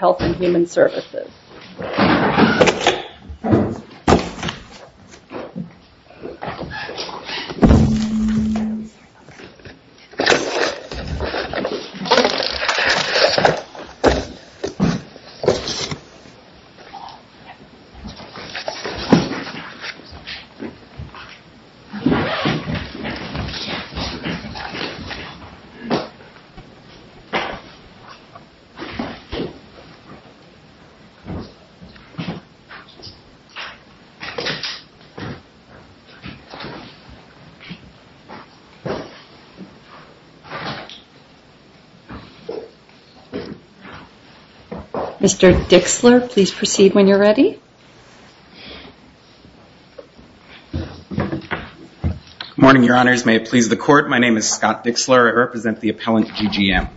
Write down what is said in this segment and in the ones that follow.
Services. Mr. Dixler, please proceed when you're ready. Good morning, Your Honors. May it please the Court, my name is Scott Dixler. I represent the appellant, GGM.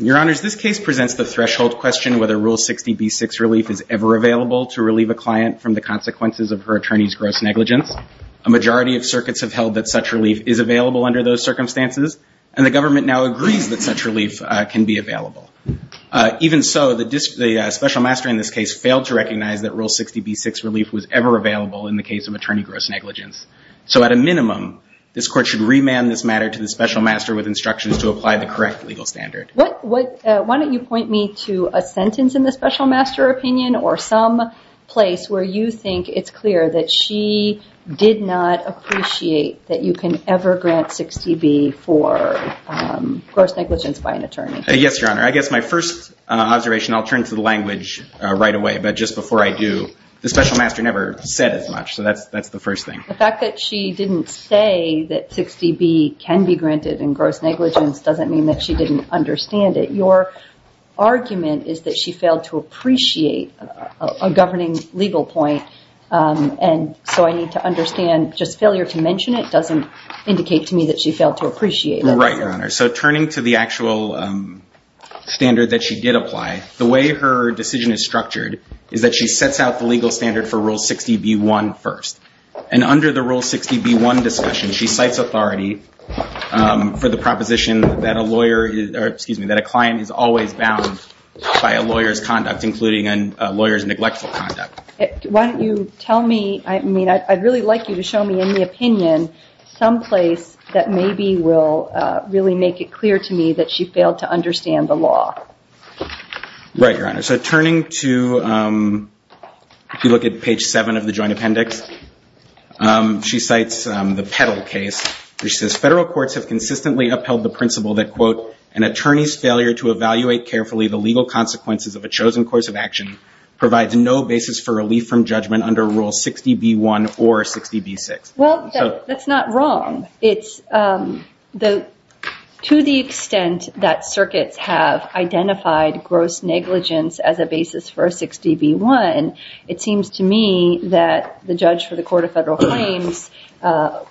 Your Honors, this case presents the threshold question whether Rule 60b-6 relief is ever available to relieve a client from the consequences of her attorney's gross negligence. A majority of circuits have held that such relief is available under those circumstances. And the government now agrees that such relief can be available. Even so, the special master in this case failed to recognize that Rule 60b-6 relief was ever available in the case of attorney gross negligence. So at a minimum, this Court should remand this matter to the special master with instructions to apply the correct legal standard. Why don't you point me to a sentence in the special master opinion or some place where you think it's clear that she did not appreciate that you can ever grant 60b for gross negligence by an attorney. Yes, Your Honor. I guess my first observation, I'll turn to the language right away, but just before I do, the special master never said as much. So that's the first thing. The fact that she didn't say that 60b can be granted in gross negligence doesn't mean that she didn't understand it. Your argument is that she failed to appreciate a governing legal point. And so I need to understand, just failure to mention it doesn't indicate to me that she failed to appreciate it. Right, Your Honor. So turning to the actual standard that she did apply, the way her decision is structured is that she sets out the legal standard for Rule 60b-1 first. And under the Rule 60b-1 discussion, she cites authority for the proposition that a client is always bound by a lawyer's conduct, including a lawyer's neglectful conduct. Why don't you tell me? I mean, I'd really like you to show me in the opinion some place that maybe will really make it clear to me that she failed to understand the law. Right, Your Honor. So turning to, if you look at page 7 of the Joint Appendix, she cites the Petal case, which says, federal courts have consistently upheld the principle that, quote, an attorney's failure to evaluate carefully the legal consequences of a chosen course of action provides no basis for relief from judgment under Rule 60b-1 or 60b-6. Well, that's not wrong. It's to the extent that circuits have identified gross negligence as a basis for 60b-1, it seems to me that the judge for the Court of Federal Claims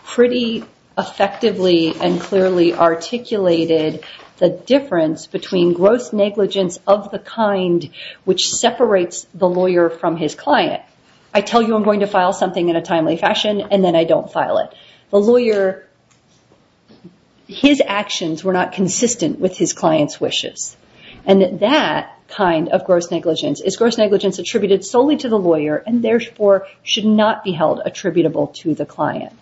pretty effectively and clearly articulated the difference between gross negligence of the kind which separates the lawyer from his client. I tell you I'm going to file something in a timely fashion, and then I don't file it. The lawyer, his actions were not consistent with his client's wishes. And that kind of gross negligence is gross negligence attributed solely to the lawyer, and therefore should not be held attributable to the client.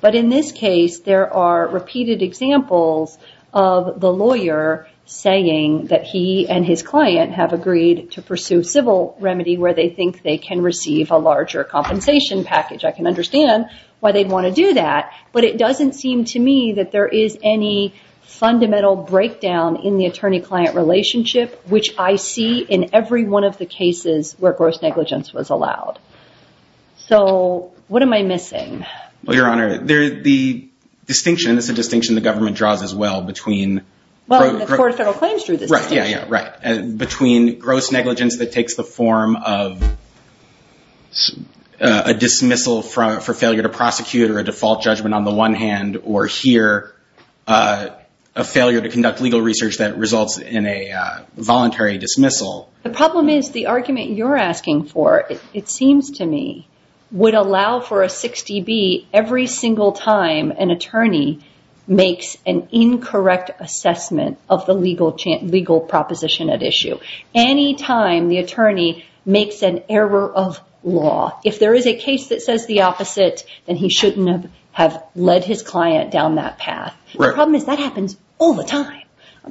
But in this case, there are repeated examples of the lawyer saying that he and his client have agreed to pursue civil remedy where they think they can receive a larger compensation package. I can understand why they'd want to do that, but it doesn't seem to me that there is any fundamental breakdown in the attorney-client relationship, which I see in every one of the cases where gross negligence was allowed. So what am I missing? Well, Your Honor, the distinction, it's a distinction the government draws as well between... Well, the Court of Federal Claims drew this distinction. Yeah, yeah, right. Between gross negligence that takes the form of a dismissal for failure to prosecute or a default judgment on the one hand, or here, a failure to conduct legal research that results in a voluntary dismissal. The problem is the argument you're asking for, it seems to me, would allow for a 60B every single time an attorney makes an incorrect assessment of the legal proposition at issue. Any time the attorney makes an error of law. If there is a case that says the opposite, then he shouldn't have led his client down that path. The problem is that happens all the time.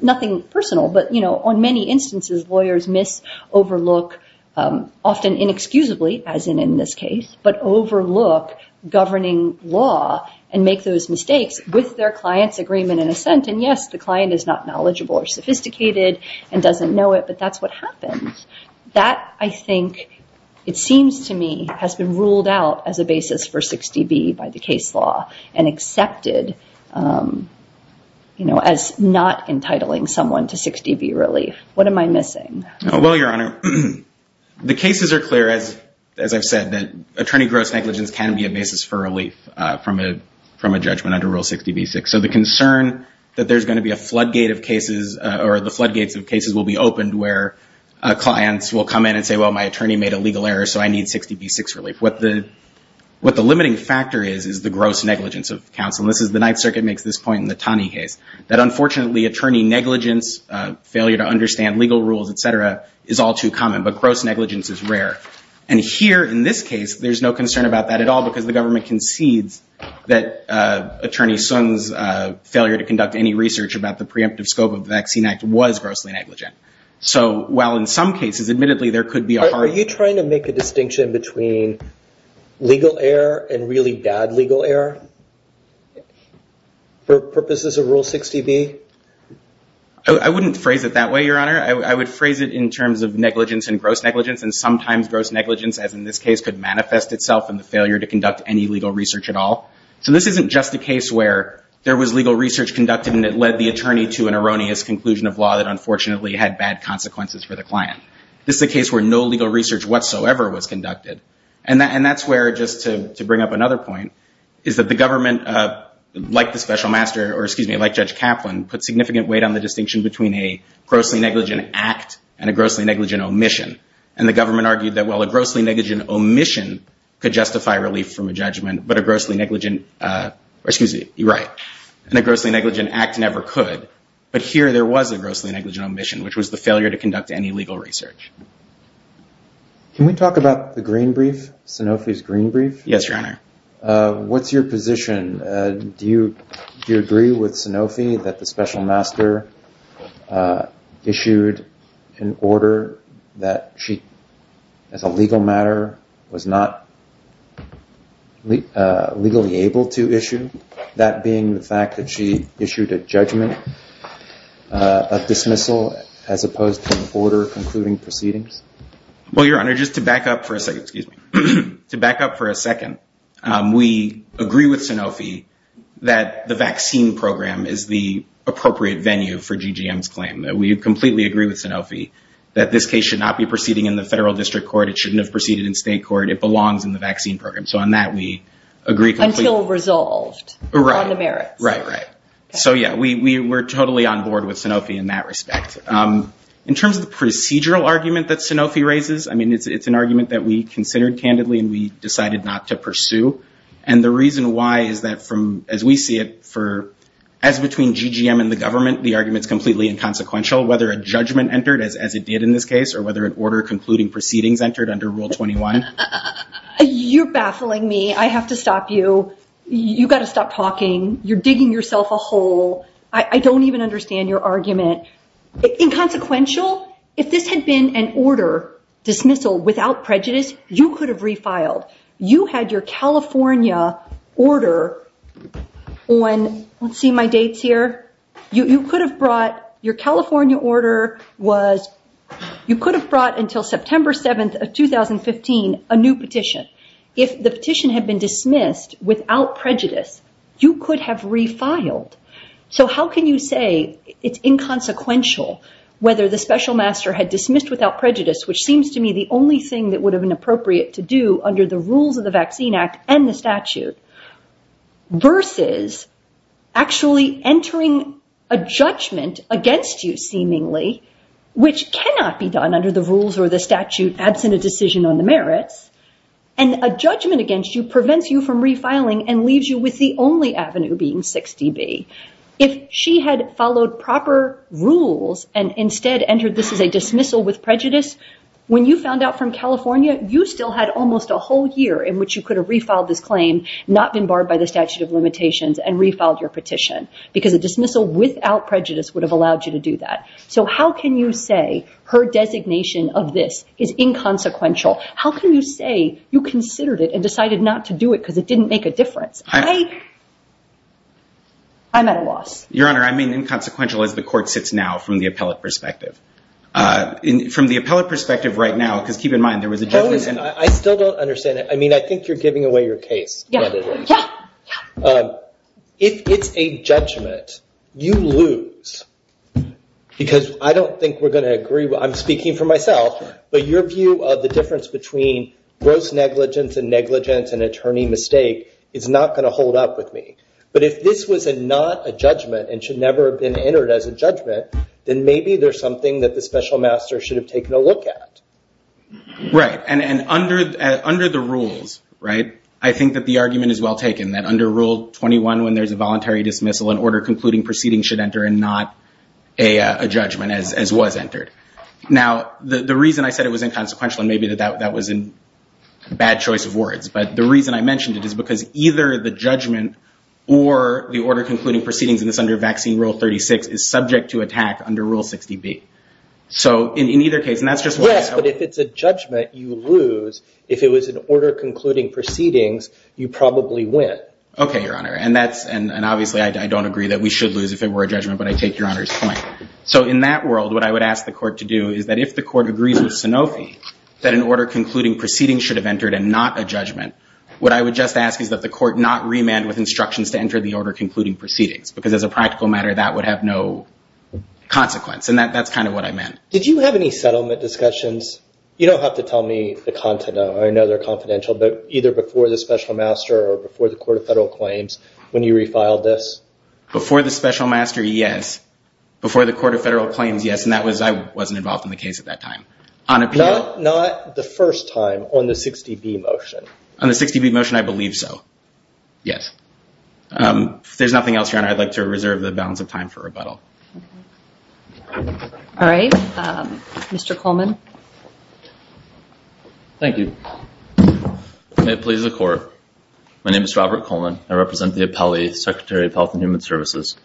Nothing personal, but on many instances, lawyers miss, overlook, often inexcusably, as in in this case, but overlook governing law and make those mistakes with their client's agreement and assent. And yes, the client is not knowledgeable or sophisticated and doesn't know it, but that's what happens. That, I think, it seems to me, has been ruled out as a basis for 60B by the case law and accepted as not entitling someone to 60B relief. What am I missing? Well, Your Honor, the cases are clear, as I've said, that attorney gross negligence can be a basis for relief from a judgment under Rule 60B-6. So the concern that there's going to be a floodgate of cases or the floodgates of cases will be opened where clients will come in and say, well, my attorney made a legal error, so I need 60B-6 relief. What the limiting factor is, is the gross negligence of counsel. The Ninth Circuit makes this point in the Taney case, that unfortunately, attorney negligence, failure to understand legal rules, et cetera, is all too common, but gross negligence is rare. And here, in this case, there's no concern about that at all because the government concedes that attorney Sun's failure to conduct any research about the preemptive scope of the Vaccine Act was grossly negligent. So while in some cases, admittedly, there could be a hard... Are you trying to make a distinction between legal error and really bad legal error for purposes of Rule 60B? I wouldn't phrase it that way, Your Honor. I would phrase it in terms of negligence and gross negligence, and sometimes gross negligence, as in this case, could manifest itself in the failure to conduct any legal research at all. So this isn't just a case where there was legal research conducted and it led the attorney to an erroneous conclusion of law that unfortunately had bad consequences for the client. This is a case where no legal research whatsoever was conducted. And that's where, just to bring up another point, is that the government, like the Special Master, or excuse me, like Judge Kaplan, put significant weight on the distinction between a grossly negligent act and a grossly negligent omission. And the government argued that, well, a grossly negligent omission could justify relief from a judgment, but a grossly negligent... Excuse me. You're right. And a grossly negligent act never could. But here there was a grossly negligent omission, which was the failure to conduct any legal research. Yes, Your Honor. What's your position? Do you agree with Sanofi that the Special Master issued an order that she, as a legal matter, was not legally able to issue? That being the fact that she issued a judgment of dismissal as opposed to an order concluding proceedings? Well, Your Honor, just to back up for a second... We agree with Sanofi that the vaccine program is the appropriate venue for GGM's claim. We completely agree with Sanofi that this case should not be proceeding in the federal district court. It shouldn't have proceeded in state court. It belongs in the vaccine program. So on that, we agree completely. Until resolved on the merits. Right, right. So, yeah, we're totally on board with Sanofi in that respect. In terms of the procedural argument that Sanofi raises, I mean, it's an argument that we considered candidly and we decided not to pursue. And the reason why is that, as we see it, as between GGM and the government, the argument's completely inconsequential, whether a judgment entered, as it did in this case, or whether an order concluding proceedings entered under Rule 21. You're baffling me. I have to stop you. You've got to stop talking. You're digging yourself a hole. I don't even understand your argument. Inconsequential? If this had been an order, dismissal, without prejudice, you could have refiled. You had your California order on, let's see my dates here. You could have brought, your California order was, you could have brought until September 7th of 2015, a new petition. If the petition had been dismissed without prejudice, you could have refiled. So how can you say it's inconsequential, whether the special master had dismissed without prejudice, which seems to me the only thing that would have been appropriate to do under the rules of the Vaccine Act and the statute, versus actually entering a judgment against you seemingly, which cannot be done under the rules or the statute, absent a decision on the merits, and a judgment against you prevents you from refiling and leaves you with the only avenue being 6dB. If she had followed proper rules and instead entered this as a dismissal with prejudice, when you found out from California, you still had almost a whole year in which you could have refiled this claim, not been barred by the statute of limitations, and refiled your petition. Because a dismissal without prejudice would have allowed you to do that. So how can you say her designation of this is inconsequential? How can you say you considered it and decided not to do it because it didn't make a difference? I'm at a loss. Your Honor, I mean inconsequential as the court sits now, from the appellate perspective. From the appellate perspective right now, because keep in mind there was a judgment. I still don't understand it. I mean, I think you're giving away your case. If it's a judgment, you lose. Because I don't think we're going to agree. I'm speaking for myself. But your view of the difference between gross negligence and negligence and attorney mistake is not going to hold up with me. But if this was not a judgment and should never have been entered as a judgment, then maybe there's something that the special master should have taken a look at. Right. And under the rules, right, I think that the argument is well taken, that under Rule 21 when there's a voluntary dismissal, an order concluding proceedings should enter and not a judgment as was entered. Now, the reason I said it was inconsequential, and maybe that was a bad choice of words, but the reason I mentioned it is because either the judgment or the order concluding proceedings in this under Vaccine Rule 36 is subject to attack under Rule 60B. So in either case, and that's just what I have. Yes, but if it's a judgment, you lose. If it was an order concluding proceedings, you probably win. Okay, Your Honor. And obviously, I don't agree that we should lose if it were a judgment, but I take Your Honor's point. So in that world, what I would ask the court to do is that if the court agrees with Sanofi that an order concluding proceedings should have entered and not a judgment, what I would just ask is that the court not remand with instructions to enter the order concluding proceedings. Because as a practical matter, that would have no consequence, and that's kind of what I meant. Did you have any settlement discussions? You don't have to tell me the content of them. I know they're confidential, but either before the Special Master or before the Court of Federal Claims when you refiled this? Before the Special Master, yes. Before the Court of Federal Claims, yes, and I wasn't involved in the case at that time. Not the first time on the 60B motion? On the 60B motion, I believe so, yes. If there's nothing else, Your Honor, I'd like to reserve the balance of time for rebuttal. All right, Mr. Coleman. Thank you. May it please the Court, my name is Robert Coleman. I represent the Secretary of Health and Human Services.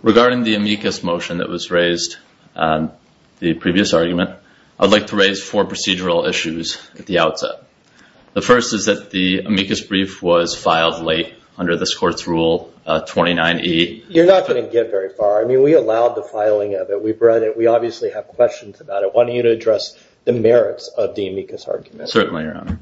Regarding the amicus motion that was raised, the previous argument, I'd like to raise four procedural issues at the outset. The first is that the amicus brief was filed late under this Court's Rule 29E. You're not going to get very far. I mean, we allowed the filing of it. We read it. We obviously have questions about it. I want you to address the merits of the amicus argument. Certainly, Your Honor.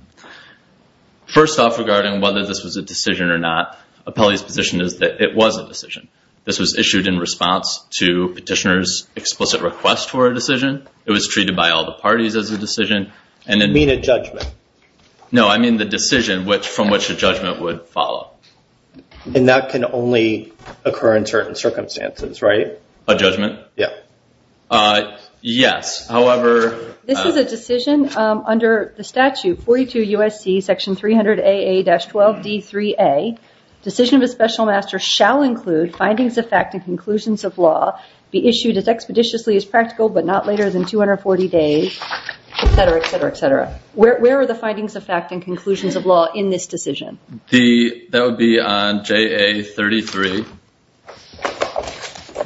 First off, regarding whether this was a decision or not, appellee's position is that it was a decision. This was issued in response to petitioner's explicit request for a decision. It was treated by all the parties as a decision. You mean a judgment? No, I mean the decision from which a judgment would follow. And that can only occur in certain circumstances, right? A judgment? Yeah. Yes, however. This is a decision under the statute 42 U.S.C. section 300AA-12D3A, decision of a special master shall include findings of fact and conclusions of law, be issued as expeditiously as practical but not later than 240 days, et cetera, et cetera, et cetera. Where are the findings of fact and conclusions of law in this decision? That would be on JA-33,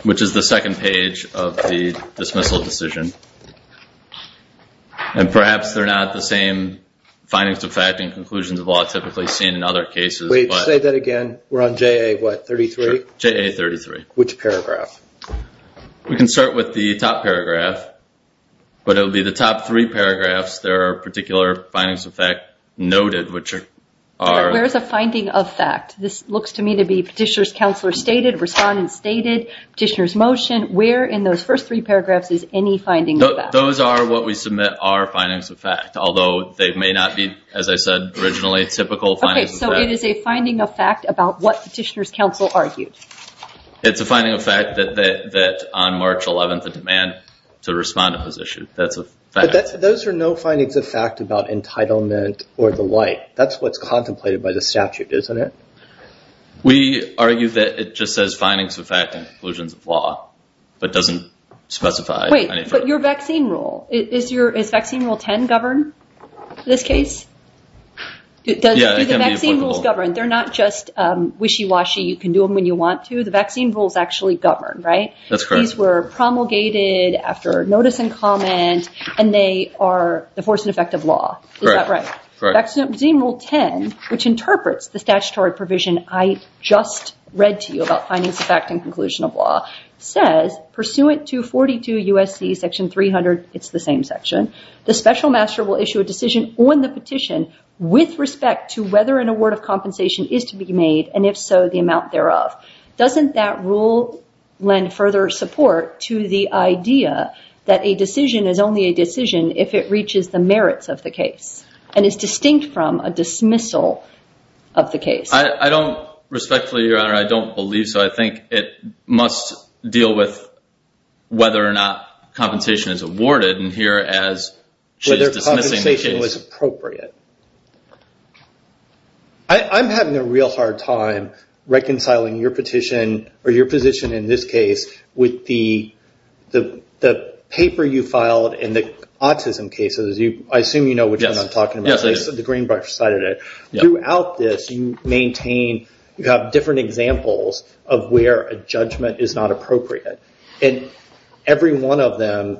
which is the second page of the dismissal decision. And perhaps they're not the same findings of fact and conclusions of law typically seen in other cases. Wait, say that again. We're on JA what, 33? JA-33. Which paragraph? We can start with the top paragraph, but it will be the top three paragraphs. There are particular findings of fact noted, which are. Where is the finding of fact? This looks to me to be Petitioner's Counselor stated, Respondent stated, Petitioner's Motion. Where in those first three paragraphs is any finding of fact? Those are what we submit are findings of fact, although they may not be, as I said originally, typical findings of fact. Okay, so it is a finding of fact about what Petitioner's Counsel argued? It's a finding of fact that on March 11th the demand to respond to was issued. That's a fact. But those are no findings of fact about entitlement or the like. That's what's contemplated by the statute, isn't it? We argue that it just says findings of fact and conclusions of law, but doesn't specify. Wait, but your vaccine rule, does vaccine rule 10 govern this case? Yeah, it can be applicable. Do the vaccine rules govern? They're not just wishy-washy, you can do them when you want to. The vaccine rules actually govern, right? That's correct. These were promulgated after notice and comment, and they are the force and effect of law. Is that right? Vaccine rule 10, which interprets the statutory provision I just read to you about findings of fact and conclusion of law, says, pursuant to 42 U.S.C. section 300, it's the same section, the special master will issue a decision on the petition with respect to whether an award of compensation is to be made, and if so, the amount thereof. Doesn't that rule lend further support to the idea that a decision is only a decision if it reaches the merits of the case and is distinct from a dismissal of the case? I don't respectfully, Your Honor, I don't believe so. I think it must deal with whether or not compensation is awarded, and here, as she's dismissing the case. Whether compensation was appropriate. I'm having a real hard time reconciling your petition, or your position in this case, with the paper you filed in the autism case. I assume you know which one I'm talking about. Yes, I do. The Greenbush cited it. Throughout this, you maintain, you have different examples of where a judgment is not appropriate, and every one of them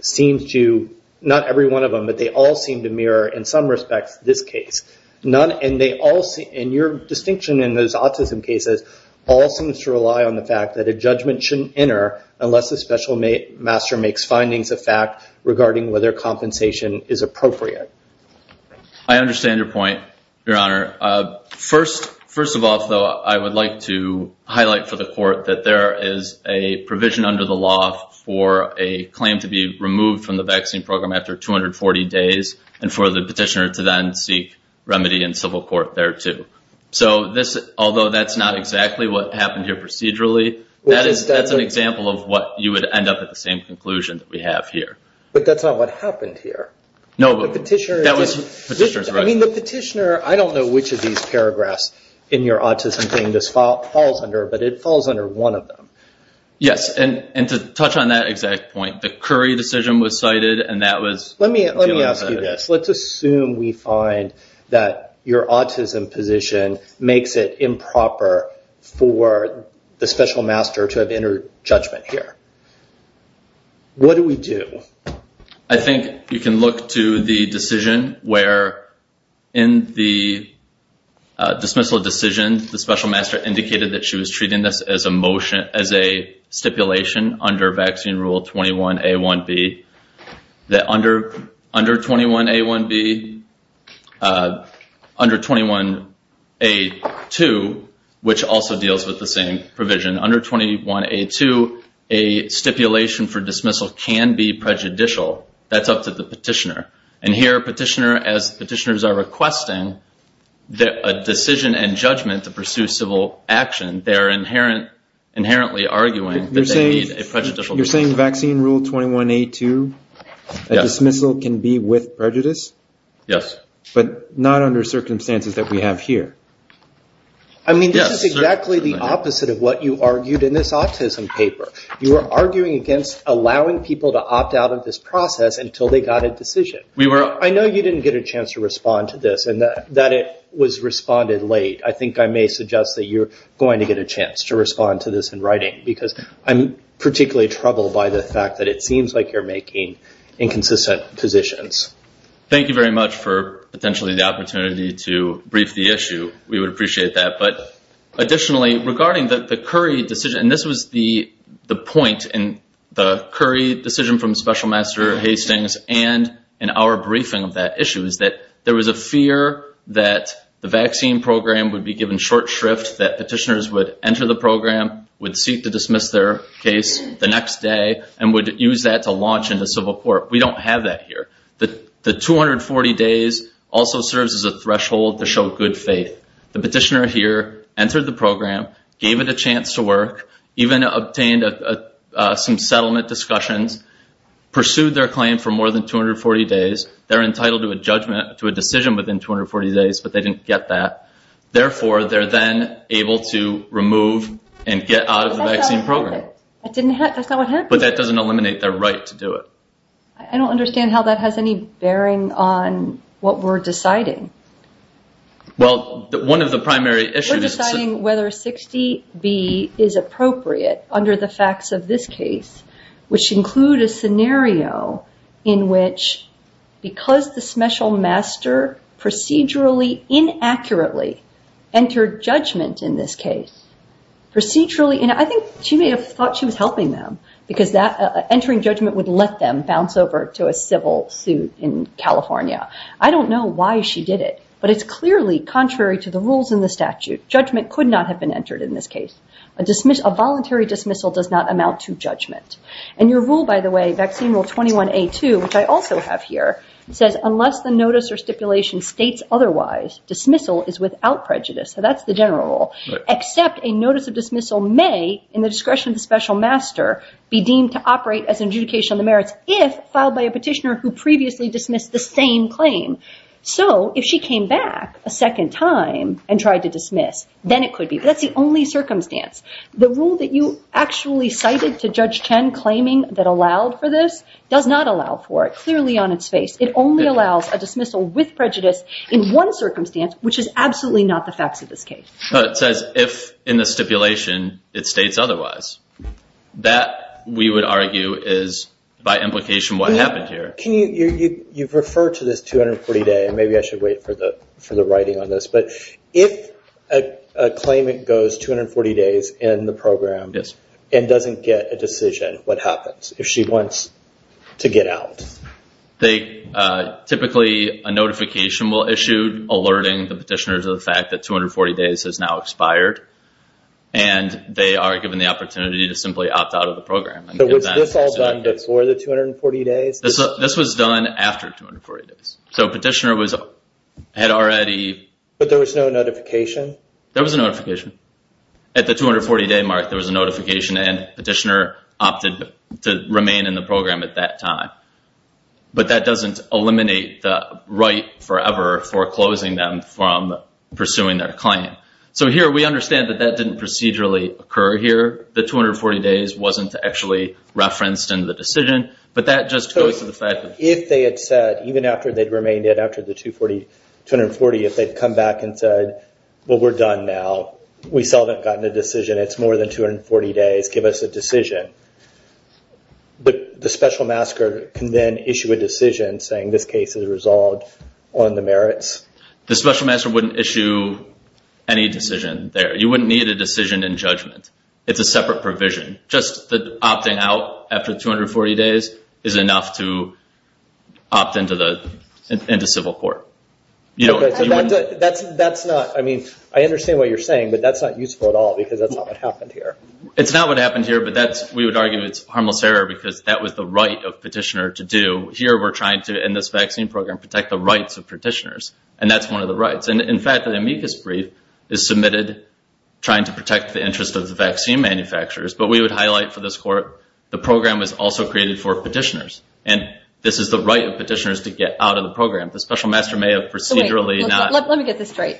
seems to, not every one of them, but they all seem to mirror, in some respects, this case. And your distinction in those autism cases all seems to rely on the fact that a judgment shouldn't enter unless the special master makes findings of fact regarding whether compensation is appropriate. I understand your point, Your Honor. First of all, though, I would like to highlight for the court that there is a provision under the law for a claim to be removed from the vaccine program after 240 days, and for the petitioner to then seek remedy in civil court thereto. So, although that's not exactly what happened here procedurally, that's an example of what you would end up at the same conclusion that we have here. But that's not what happened here. No, but the petitioner... Petitioner's right. I mean, the petitioner, I don't know which of these paragraphs in your autism claim this falls under, but it falls under one of them. Yes, and to touch on that exact point, the Curry decision was cited, and that was... Let me ask you this. Let's assume we find that your autism position makes it improper for the special master to have entered judgment here. What do we do? I think you can look to the decision where in the dismissal decision, the special master indicated that she was treating this as a stipulation under vaccine rule 21A1B, that under 21A1B, under 21A2, which also deals with the same provision, under 21A2, a stipulation for dismissal can be prejudicial. That's up to the petitioner. And here, petitioner, as petitioners are requesting a decision and judgment to pursue civil action, they're inherently arguing that they need a prejudicial... You're saying vaccine rule 21A2, that dismissal can be with prejudice? Yes. But not under circumstances that we have here. I mean, this is exactly the opposite of what you argued in this autism paper. You were arguing against allowing people to opt out of this process until they got a decision. I know you didn't get a chance to respond to this, and that it was responded late. I think I may suggest that you're going to get a chance to respond to this in writing, because I'm particularly troubled by the fact that it seems like you're making inconsistent positions. Thank you very much for potentially the opportunity to brief the issue. We would appreciate that. But additionally, regarding the Curry decision, and this was the point in the Curry decision from Special Master Hastings and in our briefing of that issue is that there was a fear that the vaccine program would be given short shrift, that petitioners would enter the program, would seek to dismiss their case the next day, and would use that to launch into civil court. We don't have that here. The 240 days also serves as a threshold to show good faith. The petitioner here entered the program, gave it a chance to work, even obtained some settlement discussions, pursued their claim for more than 240 days. They're entitled to a judgment, to a decision within 240 days, but they didn't get that. Therefore, they're then able to remove and get out of the vaccine program. But that doesn't eliminate their right to do it. I don't understand how that has any bearing on what we're deciding. Well, one of the primary issues is- We're deciding whether 60B is appropriate under the facts of this case, which include a scenario in which because the Special Master procedurally, inaccurately entered judgment in this case, procedurally, and I think she may have thought she was helping them because entering judgment would let them bounce over to a civil suit in California. I don't know why she did it, but it's clearly contrary to the rules in the statute. Judgment could not have been entered in this case. A voluntary dismissal does not amount to judgment. And your rule, by the way, vaccine rule 21A2, which I also have here, says unless the notice or stipulation states otherwise, dismissal is without prejudice. So that's the general rule, except a notice of dismissal may, in the discretion of the Special Master, be deemed to operate as an adjudication of the merits if filed by a petitioner who previously dismissed the same claim. So if she came back a second time and tried to dismiss, then it could be. But that's the only circumstance. The rule that you actually cited to Judge Chen claiming that allowed for this does not allow for it, clearly on its face. It only allows a dismissal with prejudice in one circumstance, which is absolutely not the facts of this case. It says if in the stipulation it states otherwise. That, we would argue, is by implication what happened here. You've referred to this 240-day, and maybe I should wait for the writing on this, but if a claimant goes 240 days in the program and doesn't get a decision, what happens if she wants to get out? Typically, a notification will issue alerting the petitioners of the fact that the notice has now expired, and they are given the opportunity to simply opt out of the program. So was this all done before the 240 days? This was done after 240 days. So a petitioner had already. But there was no notification? There was a notification. At the 240-day mark, there was a notification, and a petitioner opted to remain in the program at that time. But that doesn't eliminate the right forever for closing them from pursuing their claim. So here, we understand that that didn't procedurally occur here. The 240 days wasn't actually referenced in the decision, but that just goes to the fact that. So if they had said, even after they'd remained in after the 240, if they'd come back and said, well, we're done now. We still haven't gotten a decision. It's more than 240 days. Give us a decision. But the special masker can then issue a decision saying this case is resolved on the merits? The special masker wouldn't issue any decision there. You wouldn't need a decision in judgment. It's a separate provision. Just the opting out after the 240 days is enough to opt into civil court. That's not. I mean, I understand what you're saying, but that's not useful at all because that's not what happened here. It's not what happened here, but we would argue it's harmless error because that was the right of the petitioner to do. Here, we're trying to, in this vaccine program, protect the rights of petitioners, and that's one of the rights. In fact, the amicus brief is submitted trying to protect the interest of the vaccine manufacturers, but we would highlight for this court the program was also created for petitioners, and this is the right of petitioners to get out of the program. The special masker may have procedurally not. Let me get this straight.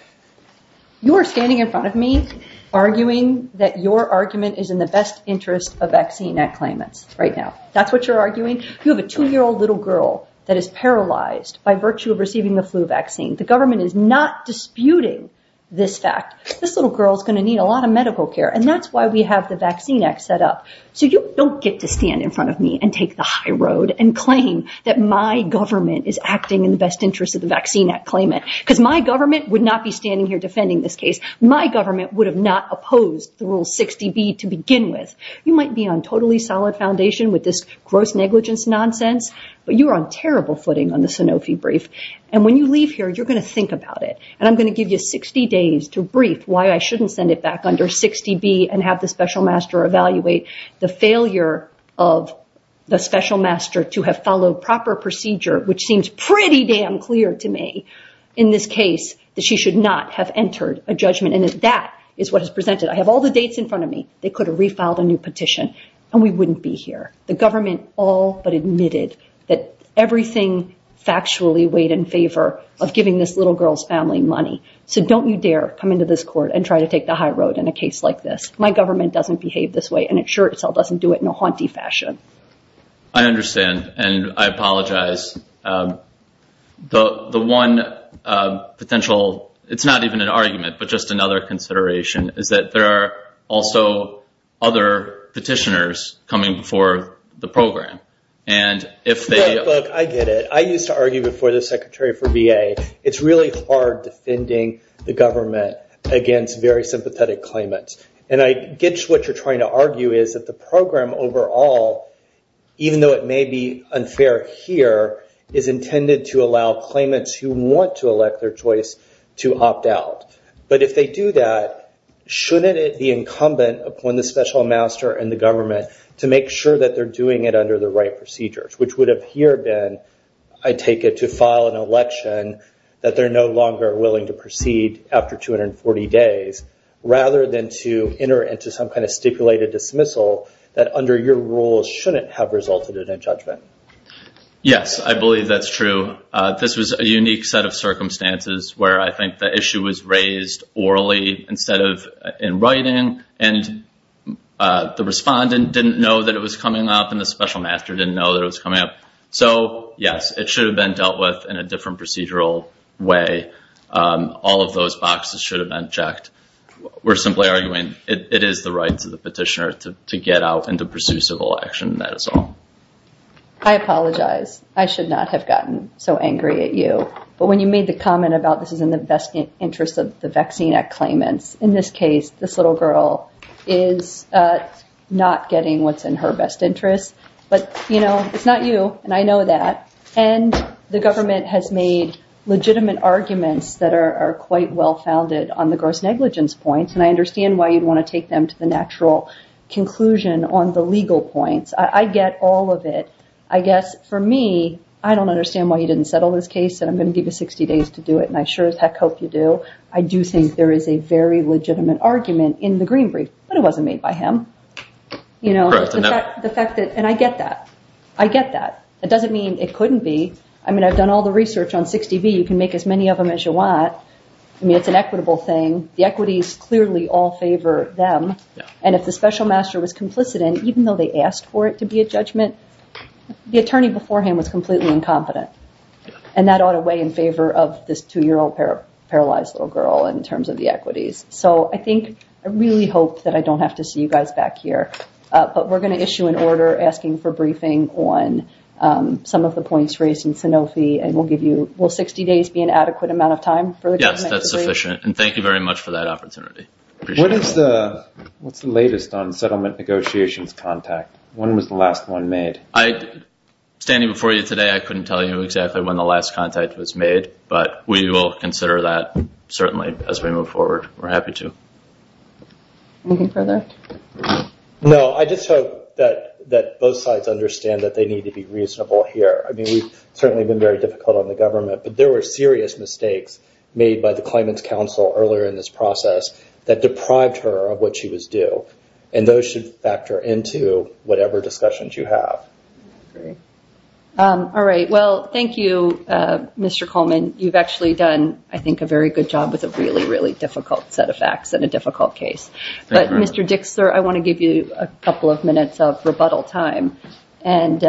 You're standing in front of me arguing that your argument is in the best interest of vaccine claimants right now. That's what you're arguing? You have a 2-year-old little girl that is paralyzed by virtue of receiving the flu vaccine. The government is not disputing this fact. This little girl is going to need a lot of medical care, and that's why we have the Vaccine Act set up. So you don't get to stand in front of me and take the high road and claim that my government is acting in the best interest of the Vaccine Act claimant because my government would not be standing here defending this case. My government would have not opposed the Rule 60B to begin with. You might be on totally solid foundation with this gross negligence nonsense, but you are on terrible footing on the Sanofi brief, and when you leave here you're going to think about it, and I'm going to give you 60 days to brief why I shouldn't send it back under 60B and have the special master evaluate the failure of the special master to have followed proper procedure, which seems pretty damn clear to me in this case that she should not have entered a judgment, and that is what is presented. I have all the dates in front of me. They could have refiled a new petition, and we wouldn't be here. The government all but admitted that everything factually weighed in favor of giving this little girl's family money. So don't you dare come into this court and try to take the high road in a case like this. My government doesn't behave this way, and it sure itself doesn't do it in a haunty fashion. I understand, and I apologize. The one potential, it's not even an argument, but just another consideration is that there are also other petitioners coming before the program. Look, I get it. I used to argue before the Secretary for VA, it's really hard defending the government against very sympathetic claimants, and I get what you're trying to argue is that the program overall, even though it may be unfair here, is intended to allow claimants who want to elect their choice to opt out. But if they do that, shouldn't it be incumbent upon the special master and the government to make sure that they're doing it under the right procedures, which would have here been, I take it, to file an election that they're no longer willing to proceed after 240 days, rather than to enter into some kind of stipulated dismissal that, under your rules, shouldn't have resulted in a judgment? Yes, I believe that's true. This was a unique set of circumstances where I think the issue was raised orally instead of in writing, and the respondent didn't know that it was coming up, and the special master didn't know that it was coming up. So, yes, it should have been dealt with in a different procedural way. All of those boxes should have been checked. We're simply arguing it is the rights of the petitioner to get out and to pursue civil action. That is all. I apologize. I should not have gotten so angry at you. But when you made the comment about this is in the best interest of the Vaccine Act claimants, in this case, this little girl is not getting what's in her best interest. But, you know, it's not you, and I know that. And the government has made legitimate arguments that are quite well-founded on the gross negligence points, and I understand why you'd want to take them to the natural conclusion on the legal points. I get all of it. I guess, for me, I don't understand why you didn't settle this case, and I'm going to give you 60 days to do it, and I sure as heck hope you do. I do think there is a very legitimate argument in the Green Brief, but it wasn't made by him. And I get that. I get that. It doesn't mean it couldn't be. I mean, I've done all the research on 60B. You can make as many of them as you want. I mean, it's an equitable thing. The equities clearly all favor them. And if the special master was complicit in it, even though they asked for it to be a judgment, the attorney beforehand was completely incompetent. And that ought to weigh in favor of this two-year-old paralyzed little girl in terms of the equities. So I think I really hope that I don't have to see you guys back here. But we're going to issue an order asking for briefing on some of the points raised in Sanofi, and we'll give you 60 days to be an adequate amount of time for the judgment. Yes, that's sufficient, and thank you very much for that opportunity. What's the latest on settlement negotiations contact? When was the last one made? Standing before you today, I couldn't tell you exactly when the last contact was made, but we will consider that, certainly, as we move forward. We're happy to. Anything further? No, I just hope that both sides understand that they need to be reasonable here. I mean, we've certainly been very difficult on the government, but there were serious mistakes made by the claimant's counsel earlier in this process that deprived her of what she was due, and those should factor into whatever discussions you have. All right. Well, thank you, Mr. Coleman. You've actually done, I think, a very good job with a really, really difficult set of facts and a difficult case. But, Mr. Dixler, I want to give you a couple of minutes of rebuttal time, and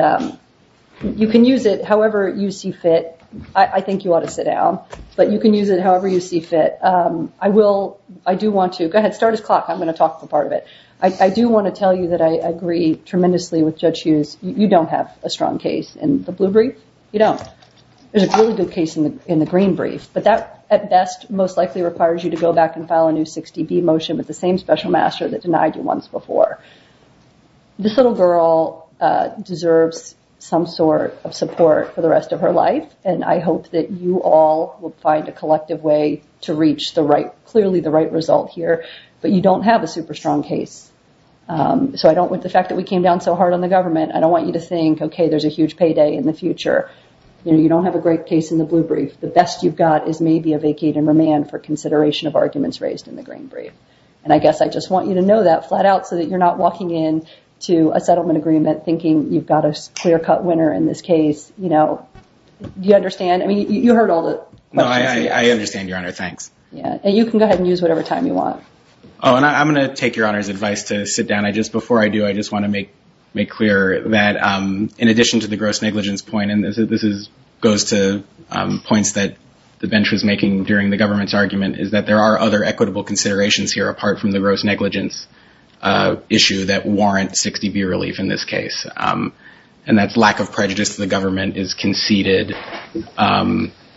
you can use it however you see fit. I think you ought to sit down. But you can use it however you see fit. I will. I do want to. Go ahead. Start his clock. I'm going to talk for part of it. I do want to tell you that I agree tremendously with Judge Hughes. You don't have a strong case in the blue brief. You don't. There's a really good case in the green brief. But that, at best, most likely requires you to go back and file a new 60B motion with the same special master that denied you once before. This little girl deserves some sort of support for the rest of her life, and I hope that you all will find a collective way to reach clearly the right result here. But you don't have a super strong case. So I don't, with the fact that we came down so hard on the government, I don't want you to think, okay, there's a huge payday in the future. You don't have a great case in the blue brief. The best you've got is maybe a vacate and remand for consideration of arguments raised in the green brief. And I guess I just want you to know that flat out so that you're not walking in to a settlement agreement thinking you've got a clear-cut winner in this case. Do you understand? I mean, you heard all the questions. No, I understand, Your Honor. Thanks. And you can go ahead and use whatever time you want. Oh, and I'm going to take Your Honor's advice to sit down. Before I do, I just want to make clear that in addition to the gross negligence point, and this goes to points that the bench was making during the government's argument, is that there are other equitable considerations here, apart from the gross negligence issue, that warrant 60B relief in this case. And that's lack of prejudice to the government is conceded.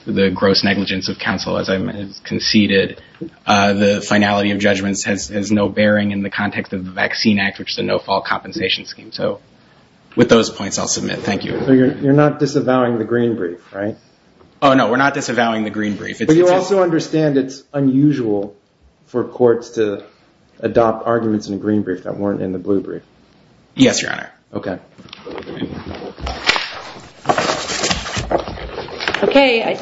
The gross negligence of counsel, as I mentioned, is conceded. The finality of judgments has no bearing in the context of the Vaccine Act, which is a no-fall compensation scheme. So with those points, I'll submit. Thank you. So you're not disavowing the green brief, right? Oh, no, we're not disavowing the green brief. But you also understand it's unusual for courts to adopt arguments in a green brief that weren't in the blue brief? Yes, Your Honor. Okay.